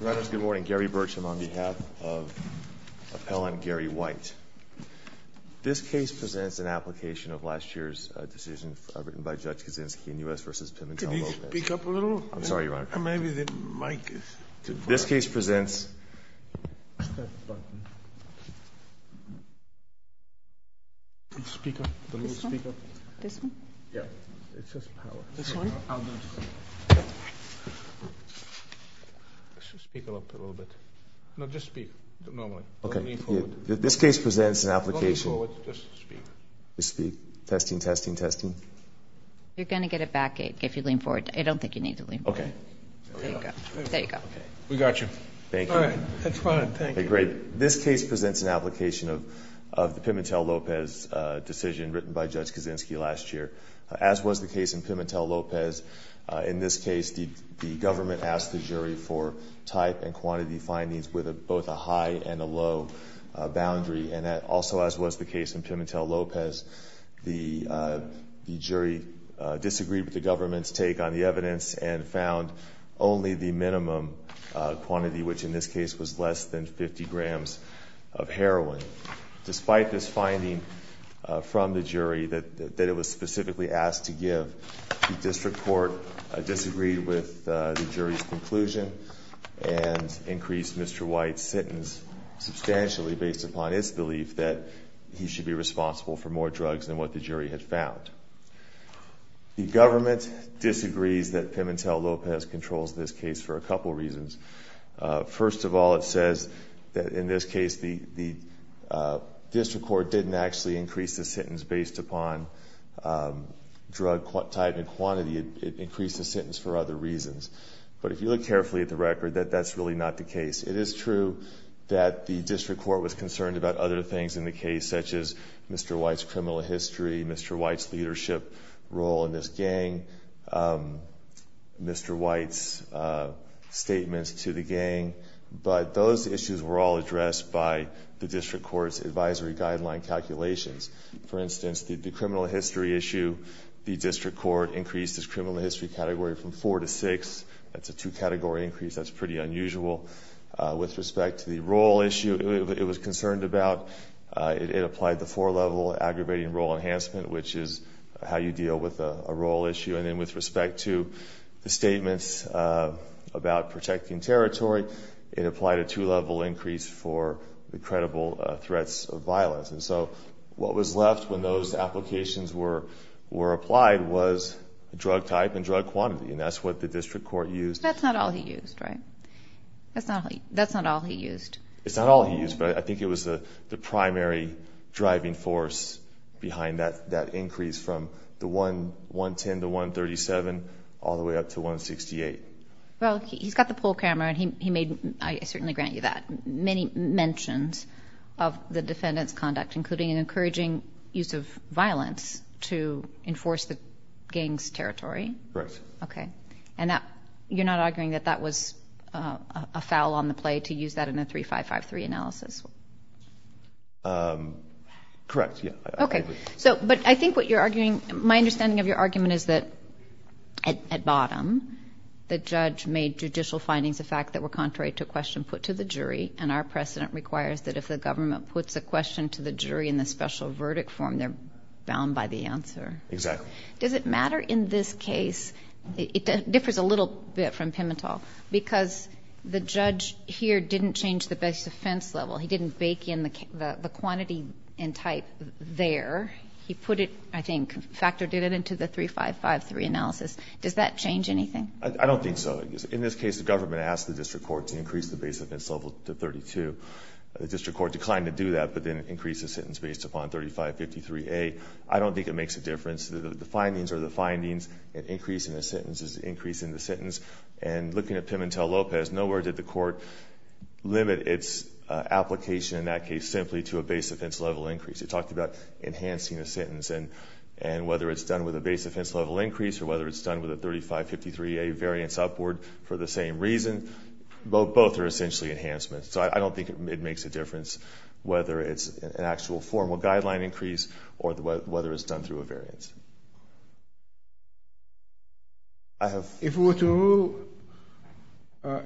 Your Honor, it's a good morning. Gary Burcham on behalf of appellant Gary White. This case presents an application of last year's decision written by Judge Kaczynski in U.S. v. Pimentel-Lopez. Could you speak up a little? I'm sorry, Your Honor. Maybe the mic is... This case presents... Press that button. Speaker, the little speaker. This one? This one? Yeah. It says power. This one? I'll do it. Speak up a little bit. No, just speak normally. Okay. This case presents an application... Don't lean forward. Just speak. Just speak. Testing, testing, testing. You're going to get it back if you lean forward. I don't think you need to lean forward. Okay. There you go. There you go. We got you. Thank you. All right. That's fine. Thank you. Great. This case presents an application of the Pimentel-Lopez decision written by Judge Kaczynski last year. As was the case in Pimentel-Lopez, in this case, the government asked the jury for type and quantity findings with both a high and a low boundary. And also, as was the case in Pimentel-Lopez, the jury disagreed with the government's take on the evidence and found only the minimum quantity, which in this case was less than 50 grams of heroin. Despite this finding from the jury that it was specifically asked to give, the district court disagreed with the jury's conclusion and increased Mr. White's sentence substantially based upon its belief that he should be responsible for more drugs than what the jury had found. The government disagrees that Pimentel-Lopez controls this case for a couple reasons. First of all, it says that in this case the district court didn't actually increase the sentence based upon drug type and quantity. It increased the sentence for other reasons. But if you look carefully at the record, that that's really not the case. It is true that the district court was concerned about other things in the case, such as Mr. White's criminal history, Mr. White's leadership role in this gang, Mr. White's statements to the gang. But those issues were all addressed by the district court's advisory guideline calculations. For instance, the criminal history issue, the district court increased its criminal history category from four to six. That's a two-category increase. That's pretty unusual. With respect to the role issue, it was concerned about, it applied the four-level aggravating role enhancement, which is how you deal with a role issue. And then with respect to the statements about protecting territory, it applied a two-level increase for the credible threats of violence. And so what was left when those applications were applied was drug type and drug quantity, and that's what the district court used. That's not all he used, right? That's not all he used. It's not all he used, but I think it was the primary driving force behind that increase from the 110 to 137 all the way up to 168. Well, he's got the poll camera, and he made, I certainly grant you that, many mentions of the defendant's conduct, including an encouraging use of violence to enforce the gang's territory. Correct. Okay. And you're not arguing that that was a foul on the play to use that in a 3553 analysis? Correct, yeah. Okay. But I think what you're arguing, my understanding of your argument is that at bottom, the judge made judicial findings of fact that were contrary to a question put to the jury, and our precedent requires that if the government puts a question to the jury in the special verdict form, they're bound by the answer. Exactly. Does it matter in this case, it differs a little bit from Pimentel, because the judge here didn't change the base offense level. He didn't bake in the quantity and type there. He put it, I think, factored it into the 3553 analysis. Does that change anything? I don't think so. In this case, the government asked the district court to increase the base offense level to 32. The district court declined to do that, but then it increased the sentence based upon 3553A. I don't think it makes a difference. The findings are the findings. An increase in a sentence is an increase in the sentence. And looking at Pimentel-Lopez, nowhere did the court limit its application in that case simply to a base offense level increase. It talked about enhancing a sentence, and whether it's done with a base offense level increase or whether it's done with a 3553A variance upward for the same reason, both are essentially enhancements. So I don't think it makes a difference whether it's an actual formal guideline increase or whether it's done through a variance. If we were to rule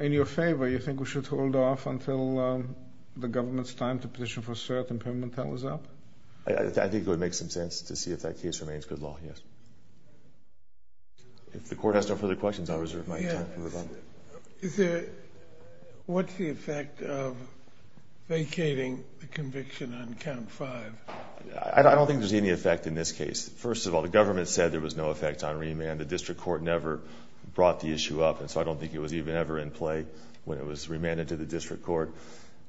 in your favor, you think we should hold off until the government's time to petition for cert and Pimentel is up? I think it would make some sense to see if that case remains good law, yes. If the court has no further questions, I'll reserve my time for rebuttal. What's the effect of vacating the conviction on count five? I don't think there's any effect in this case. First of all, the government said there was no effect on remand. The district court never brought the issue up, and so I don't think it was even ever in play when it was remanded to the district court.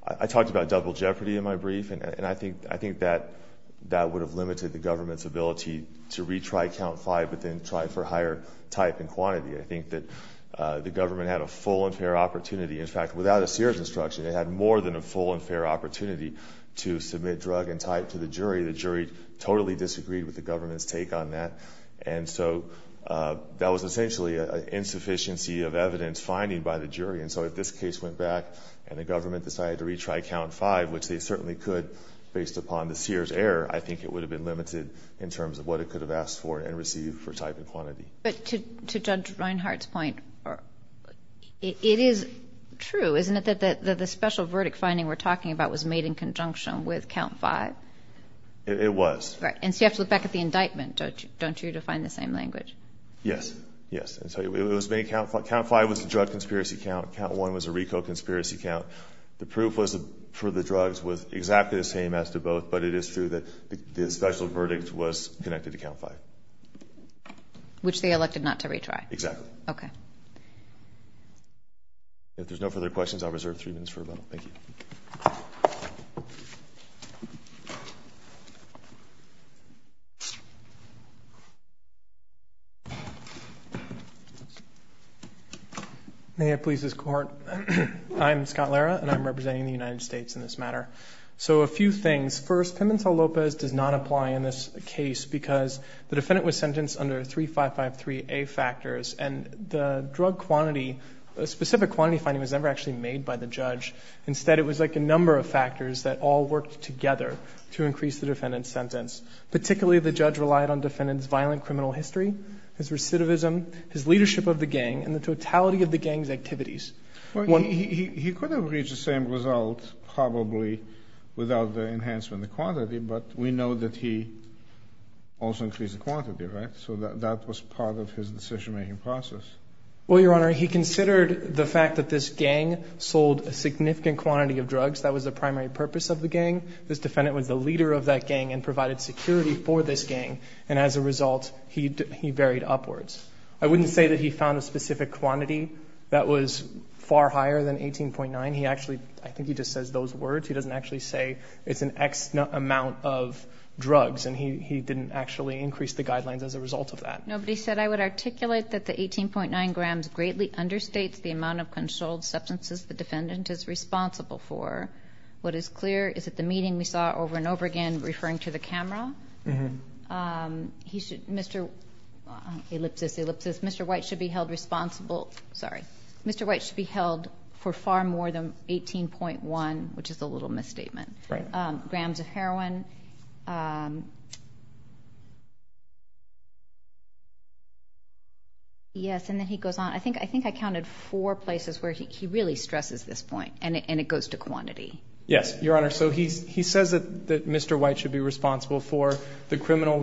I talked about double jeopardy in my brief, and I think that would have limited the government's ability to retry count five but then try for higher type and quantity. I think that the government had a full and fair opportunity. In fact, without a Sears instruction, it had more than a full and fair opportunity to submit drug and type to the jury. The jury totally disagreed with the government's take on that, and so that was essentially an insufficiency of evidence finding by the jury, and so if this case went back and the government decided to retry count five, which they certainly could based upon the Sears error, I think it would have been limited in terms of what it could have asked for and received for type and quantity. But to Judge Reinhart's point, it is true, isn't it, that the special verdict finding we're talking about was made in conjunction with count five? It was. Right. And so you have to look back at the indictment, don't you, to find the same language? Yes. Yes. And so it was made count five. Count five was a drug conspiracy count. Count one was a RICO conspiracy count. The proof for the drugs was exactly the same as to both, but it is true that the special verdict was connected to count five. Which they elected not to retry. Exactly. Okay. If there's no further questions, I'll reserve three minutes for a vote. Thank you. May I please escort? I'm Scott Lara, and I'm representing the United States in this matter. So a few things. First, Pimentel-Lopez does not apply in this case, because the defendant was sentenced under 3553A factors, and the drug quantity, specific quantity finding was never actually made by the judge. Instead, it was like a number of factors that all worked together to increase the defendant's sentence. Particularly, the judge relied on defendant's violent criminal history, his recidivism, his leadership of the gang, and the totality of the gang's activities. He could have reached the same result probably without the enhancement of quantity, but we know that he also increased the quantity, right? So that was part of his decision-making process. Well, Your Honor, he considered the fact that this gang sold a significant quantity of drugs. That was the primary purpose of the gang. This defendant was the leader of that gang and provided security for this gang, and as a result, he varied upwards. I wouldn't say that he found a specific quantity that was far higher than 18.9. He actually, I think he just says those words. He doesn't actually say it's an X amount of drugs, and he didn't actually increase the guidelines as a result of that. Nobody said, I would articulate that the 18.9 grams greatly understates the amount of controlled substances the defendant is responsible for. What is clear is that the meeting we saw over and over again referring to the camera, Mr. White should be held responsible for far more than 18.1, which is a little misstatement, grams of heroin. Yes, and then he goes on. I think I counted four places where he really stresses this point, and it goes to quantity. Yes, Your Honor. So he says that Mr. White should be responsible for the criminal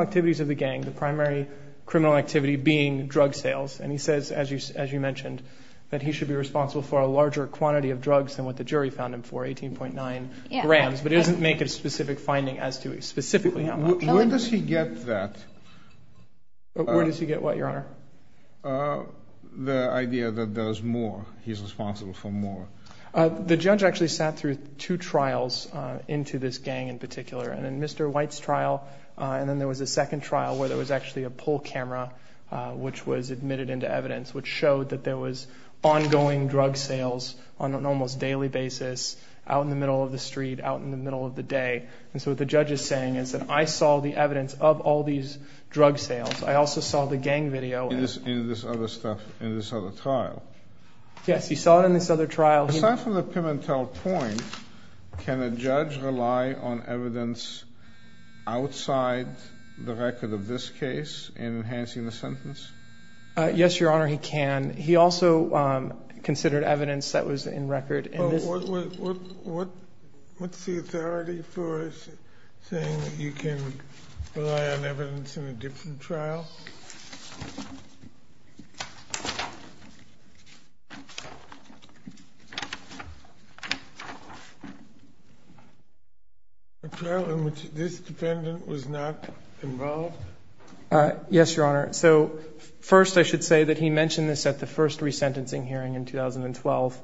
activities of the gang, the primary criminal activity being drug sales, and he says, as you mentioned, that he should be responsible for a larger quantity of drugs than what the jury found him for, 18.9 grams, but he doesn't make a specific finding as to specifically how much. Where does he get that? Where does he get what, Your Honor? The idea that there's more, he's responsible for more. The judge actually sat through two trials into this gang in particular, and in Mr. White's trial, and then there was a second trial where there was actually a pull camera, which was admitted into evidence, which showed that there was ongoing drug sales on an almost daily basis, out in the middle of the street, out in the middle of the day. And so what the judge is saying is that I saw the evidence of all these drug sales. I also saw the gang video. In this other stuff, in this other trial. Yes, he saw it in this other trial. Aside from the Pimentel point, can a judge rely on evidence outside the record of this case in enhancing the sentence? Yes, Your Honor, he can. He also considered evidence that was in record in this. What's the authority for saying that you can rely on evidence in a different trial? The trial in which this defendant was not involved? Yes, Your Honor. So first I should say that he mentioned this at the first resentencing hearing in 2012,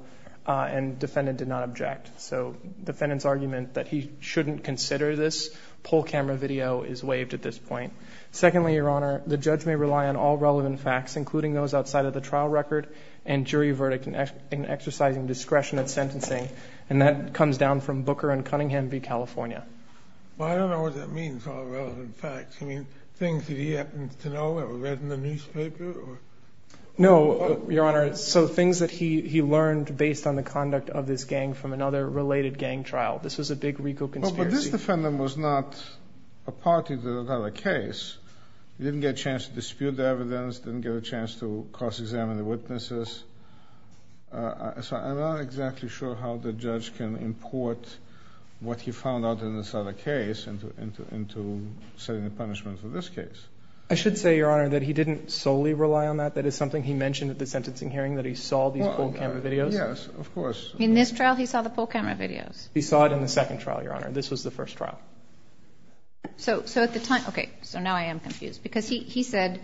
and the defendant did not object. So the defendant's argument that he shouldn't consider this pull camera video is waived at this point. The judge may rely on all relevant facts, including those outside of the trial record and jury verdict in exercising discretion at sentencing. And that comes down from Booker and Cunningham v. California. Well, I don't know what that means, all relevant facts. You mean things that he happens to know that were read in the newspaper? No, Your Honor. So things that he learned based on the conduct of this gang from another related gang trial. This was a big RICO conspiracy. Well, but this defendant was not a party to another case. He didn't get a chance to dispute the evidence, didn't get a chance to cross-examine the witnesses. So I'm not exactly sure how the judge can import what he found out in this other case into setting a punishment for this case. I should say, Your Honor, that he didn't solely rely on that. That is something he mentioned at the sentencing hearing, that he saw these pull camera videos. Yes, of course. In this trial, he saw the pull camera videos. He saw it in the second trial, Your Honor. This was the first trial. So at the time, okay, so now I am confused. Because he said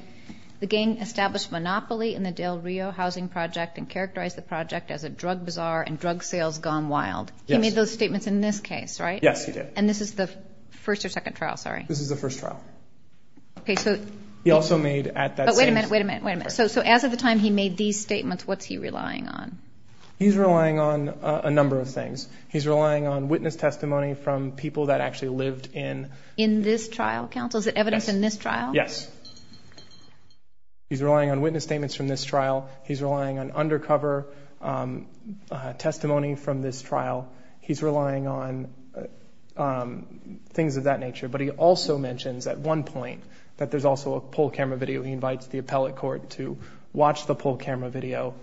the gang established monopoly in the Del Rio housing project and characterized the project as a drug bazaar and drug sales gone wild. Yes. He made those statements in this case, right? Yes, he did. And this is the first or second trial, sorry? This is the first trial. Okay, so he also made at that sentencing. But wait a minute, wait a minute, wait a minute. So as of the time he made these statements, what's he relying on? He's relying on a number of things. He's relying on witness testimony from people that actually lived in. In this trial, counsel? Is it evidence in this trial? Yes. He's relying on witness statements from this trial. He's relying on undercover testimony from this trial. He's relying on things of that nature. But he also mentions at one point that there's also a pull camera video. He invites the appellate court to watch the pull camera video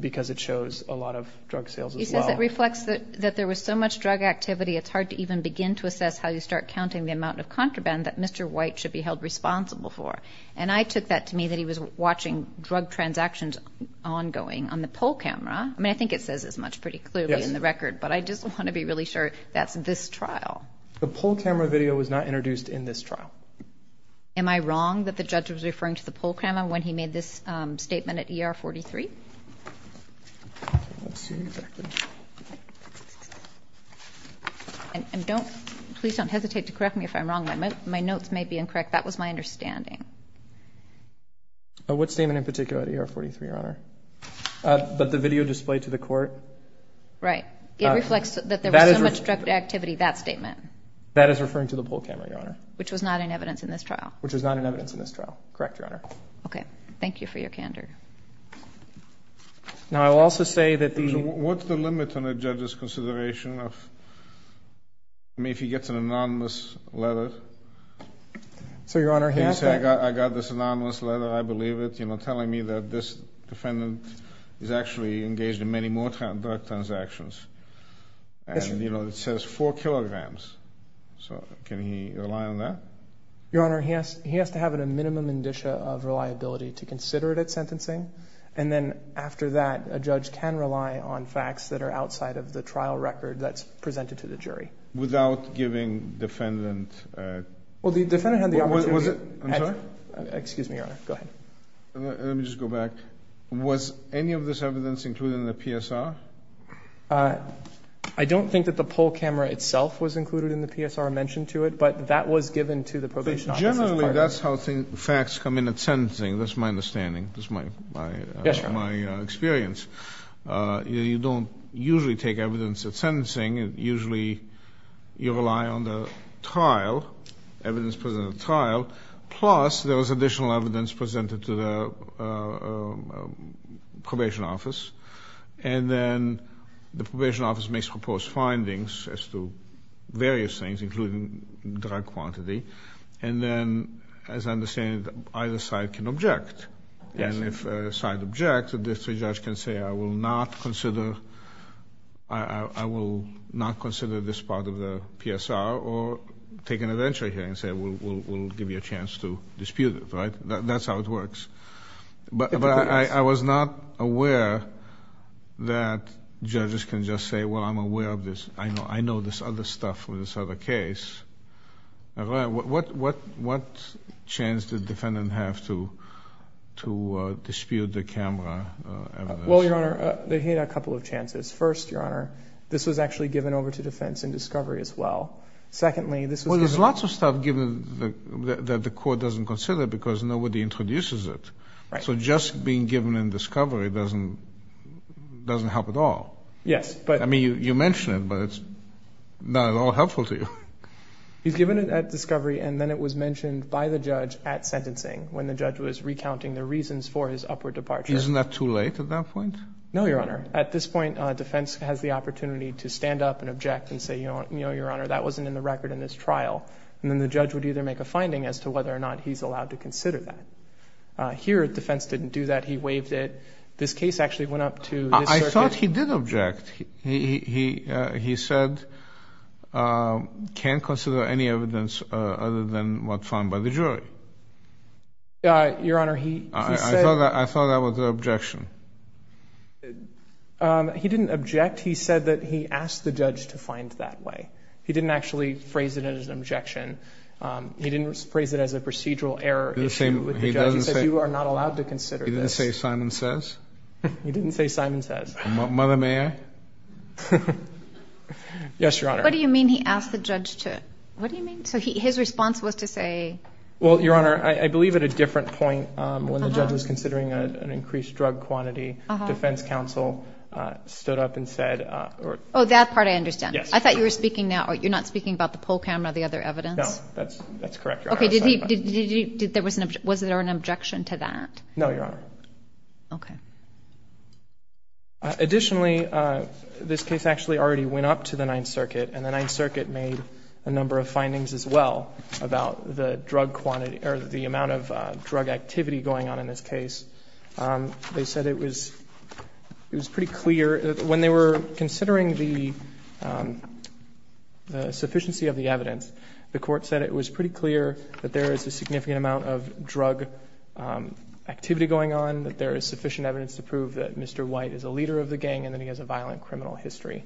because it shows a lot of drug sales as well. That reflects that there was so much drug activity, it's hard to even begin to assess how you start counting the amount of contraband that Mr. White should be held responsible for. And I took that to mean that he was watching drug transactions ongoing on the pull camera. I mean, I think it says as much pretty clearly in the record. Yes. But I just want to be really sure that's this trial. The pull camera video was not introduced in this trial. Am I wrong that the judge was referring to the pull camera when he made this statement at ER 43? I don't see exactly. And please don't hesitate to correct me if I'm wrong. My notes may be incorrect. That was my understanding. What statement in particular at ER 43, Your Honor? That the video displayed to the court. Right. It reflects that there was so much drug activity, that statement. That is referring to the pull camera, Your Honor. Which was not in evidence in this trial. Which was not in evidence in this trial. Correct, Your Honor. Okay. Thank you for your candor. Now, I will also say that the... What's the limit on a judge's consideration of... I mean, if he gets an anonymous letter... So, Your Honor, he has to... He can say, I got this anonymous letter. I believe it. You know, telling me that this defendant is actually engaged in many more drug transactions. And, you know, it says 4 kilograms. So, can he rely on that? Your Honor, he has to have a minimum indicia of reliability to consider it at sentencing. And then, after that, a judge can rely on facts that are outside of the trial record that's presented to the jury. Without giving defendant... Well, the defendant had the opportunity... Was it... I'm sorry? Excuse me, Your Honor. Go ahead. Let me just go back. Was any of this evidence included in the PSR? I don't think that the pull camera itself was included in the PSR mentioned to it. But that was given to the probation office. But generally, that's how facts come in at sentencing. That's my understanding. That's my experience. You don't usually take evidence at sentencing. Usually, you rely on the trial, evidence presented at trial, plus there was additional evidence presented to the probation office. And then the probation office makes proposed findings as to various things, including drug quantity. And then, as I understand, either side can object. Yes. And if a side objects, the district judge can say, I will not consider this part of the PSR or take an eventual hearing and say, we'll give you a chance to dispute it. That's how it works. But I was not aware that judges can just say, well, I'm aware of this. I know this other stuff for this other case. What chance did the defendant have to dispute the camera evidence? Well, Your Honor, they had a couple of chances. First, Your Honor, this was actually given over to defense in discovery as well. Secondly, this was given over to defense. Well, there's lots of stuff given that the court doesn't consider because nobody introduces it. Right. So just being given in discovery doesn't help at all. Yes. I mean, you mention it, but it's not at all helpful to you. He's given it at discovery, and then it was mentioned by the judge at sentencing when the judge was recounting the reasons for his upward departure. Isn't that too late at that point? No, Your Honor. At this point, defense has the opportunity to stand up and object and say, Your Honor, that wasn't in the record in this trial. And then the judge would either make a finding as to whether or not he's allowed to consider that. Here, defense didn't do that. He waived it. This case actually went up to this circuit. But he did object. He said, can't consider any evidence other than what's found by the jury. Your Honor, he said. I thought that was an objection. He didn't object. He said that he asked the judge to find that way. He didn't actually phrase it as an objection. He didn't phrase it as a procedural error issue with the judge. He said, you are not allowed to consider this. He didn't say Simon says? Mother, may I? Yes, Your Honor. What do you mean he asked the judge to? What do you mean? So his response was to say? Well, Your Honor, I believe at a different point when the judge was considering an increased drug quantity, defense counsel stood up and said. Oh, that part I understand. Yes. I thought you were speaking now. You're not speaking about the poll camera, the other evidence? No, that's correct, Your Honor. Okay. Was there an objection to that? No, Your Honor. Okay. Additionally, this case actually already went up to the Ninth Circuit, and the Ninth Circuit made a number of findings as well about the drug quantity or the amount of drug activity going on in this case. They said it was pretty clear. When they were considering the sufficiency of the evidence, the Court said it was pretty clear that there is a significant amount of drug activity going on, that there is sufficient evidence to prove that Mr. White is a leader of the gang and that he has a violent criminal history.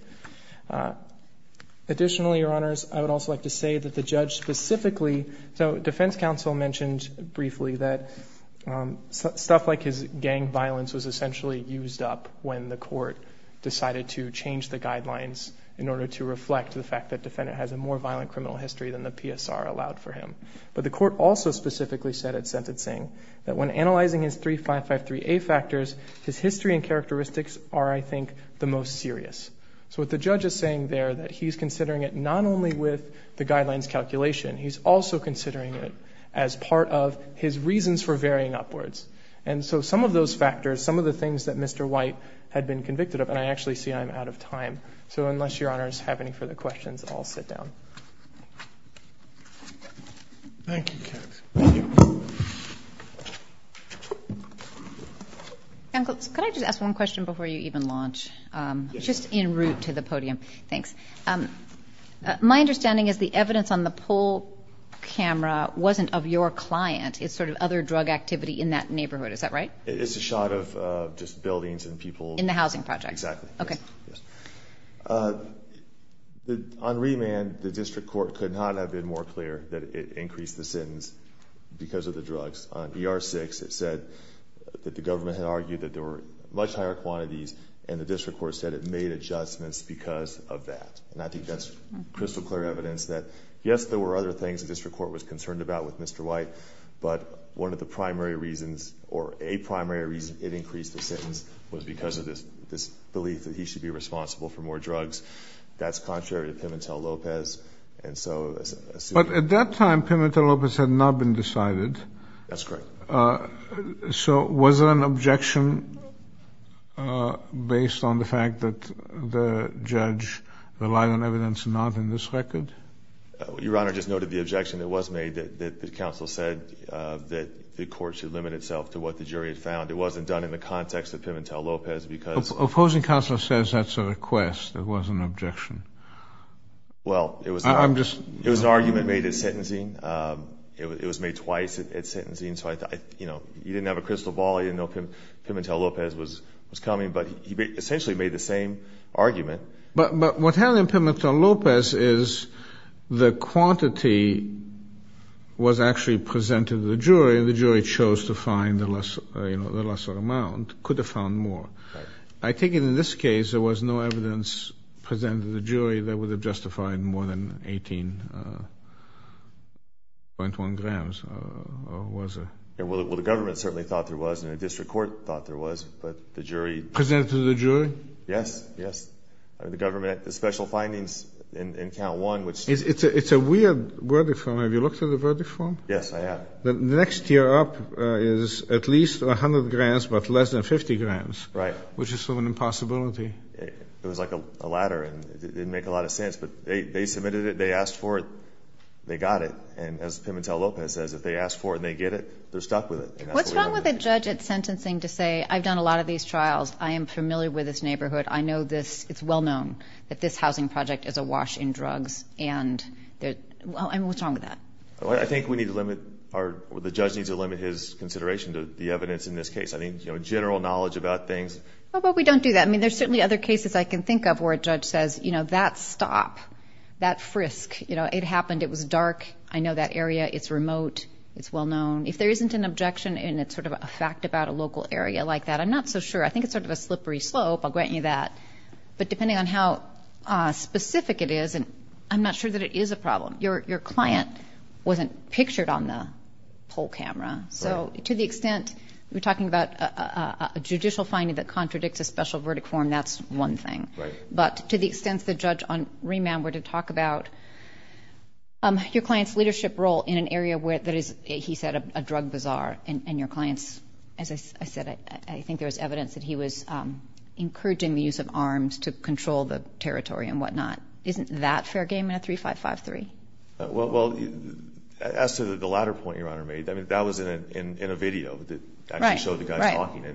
Additionally, Your Honors, I would also like to say that the judge specifically so defense counsel mentioned briefly that stuff like his gang violence was essentially used up when the Court decided to change the guidelines in order to reflect the fact that the defendant has a more violent criminal history than the PSR allowed for him. But the Court also specifically said at sentencing that when analyzing his 3553A factors, his history and characteristics are, I think, the most serious. So what the judge is saying there, that he's considering it not only with the guidelines calculation. He's also considering it as part of his reasons for varying upwards. And so some of those factors, some of the things that Mr. White had been convicted of, and I actually see I'm out of time. So unless Your Honors have any further questions, I'll sit down. Thank you, Kat. Thank you. Counsel, could I just ask one question before you even launch? Yes. Just in route to the podium. Thanks. My understanding is the evidence on the poll camera wasn't of your client. It's sort of other drug activity in that neighborhood. Is that right? It's a shot of just buildings and people. In the housing project. Exactly. Okay. Yes. On remand, the district court could not have been more clear that it increased the sentence because of the drugs. On ER-6, it said that the government had argued that there were much higher quantities, and the district court said it made adjustments because of that. And I think that's crystal clear evidence that, yes, there were other things the district court was concerned about with Mr. White, but one of the primary reasons, or a primary reason, it increased the sentence was because of this belief that he should be responsible for more drugs. That's contrary to Pimentel-Lopez. But at that time, Pimentel-Lopez had not been decided. That's correct. So was there an objection based on the fact that the judge relied on evidence and not in this record? Your Honor, I just noted the objection that was made that the counsel said that the court should limit itself to what the jury had found. It wasn't done in the context of Pimentel-Lopez because of... Opposing counsel says that's a request. It wasn't an objection. Well, it was an argument made at sentencing. It was made twice at sentencing. So, you know, he didn't have a crystal ball. He didn't know Pimentel-Lopez was coming. But he essentially made the same argument. But what happened in Pimentel-Lopez is the quantity was actually presented to the jury and the jury chose to find the lesser amount, could have found more. Right. I take it in this case there was no evidence presented to the jury that would have justified more than 18.1 grams, or was there? Well, the government certainly thought there was and the district court thought there was. But the jury... Presented to the jury? Yes, yes. The government, the special findings in count one, which... It's a weird verdict form. Have you looked at the verdict form? Yes, I have. The next tier up is at least 100 grams but less than 50 grams. Right. Which is sort of an impossibility. It was like a ladder and it didn't make a lot of sense. But they submitted it, they asked for it, they got it. And as Pimentel-Lopez says, if they ask for it and they get it, they're stuck with it. What's wrong with a judge at sentencing to say, I've done a lot of these trials, I am familiar with this neighborhood, I know this, it's well known that this housing project is a wash in drugs and they're, I mean, what's wrong with that? I think we need to limit or the judge needs to limit his consideration to the evidence in this case. I think, you know, general knowledge about things. But we don't do that. I mean, there's certainly other cases I can think of where a judge says, you know, that stop, that frisk, you know, it happened, it was dark, I know that area, it's remote, it's well known. If there isn't an objection and it's sort of a fact about a local area like that, I'm not so sure. I think it's sort of a slippery slope, I'll grant you that. But depending on how specific it is, I'm not sure that it is a problem. Your client wasn't pictured on the poll camera. So to the extent we're talking about a judicial finding that contradicts a special verdict form, that's one thing. But to the extent the judge on remand were to talk about your client's leadership role in an area where that is, he said, a drug bazaar and your client's, as I said, I think there was evidence that he was encouraging the use of arms to control the territory and whatnot. Isn't that fair game in a 3-5-5-3? Well, as to the latter point Your Honor made, I mean, that was in a video that actually showed the guys talking.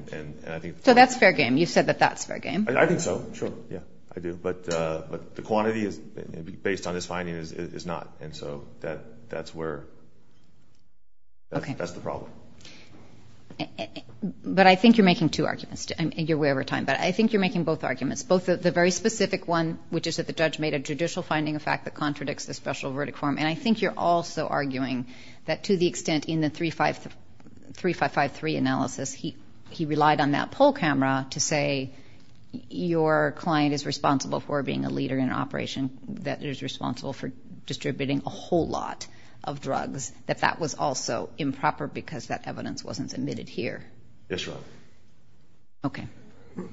So that's fair game. You've said that that's fair game. I think so. Sure. Yeah, I do. But the quantity based on this finding is not. And so that's where that's the problem. But I think you're making two arguments. You're way over time. But I think you're making both arguments. Both the very specific one, which is that the judge made a judicial finding, a fact that contradicts the special verdict form. And I think you're also arguing that to the extent in the 3-5-5-3 analysis he relied on that poll camera to say your client is responsible for being a leader in an operation that is responsible for distributing a whole lot of drugs, that that was also improper because that evidence wasn't submitted here. Yes, Your Honor. Okay.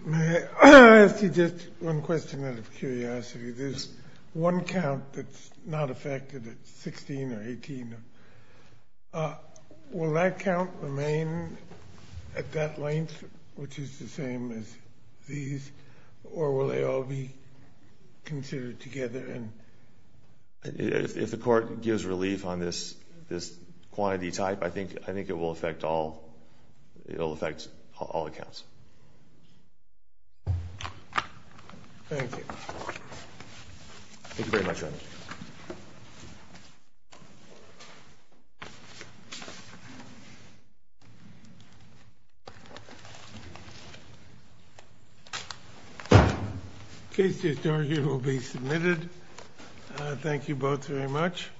May I ask you just one question out of curiosity? There's one count that's not affected, 16 or 18. Will that count remain at that length, which is the same as these, or will they all be considered together? If the court gives relief on this quantity type, I think it will affect all accounts. Thank you. Case discharge will be submitted. Thank you both very much.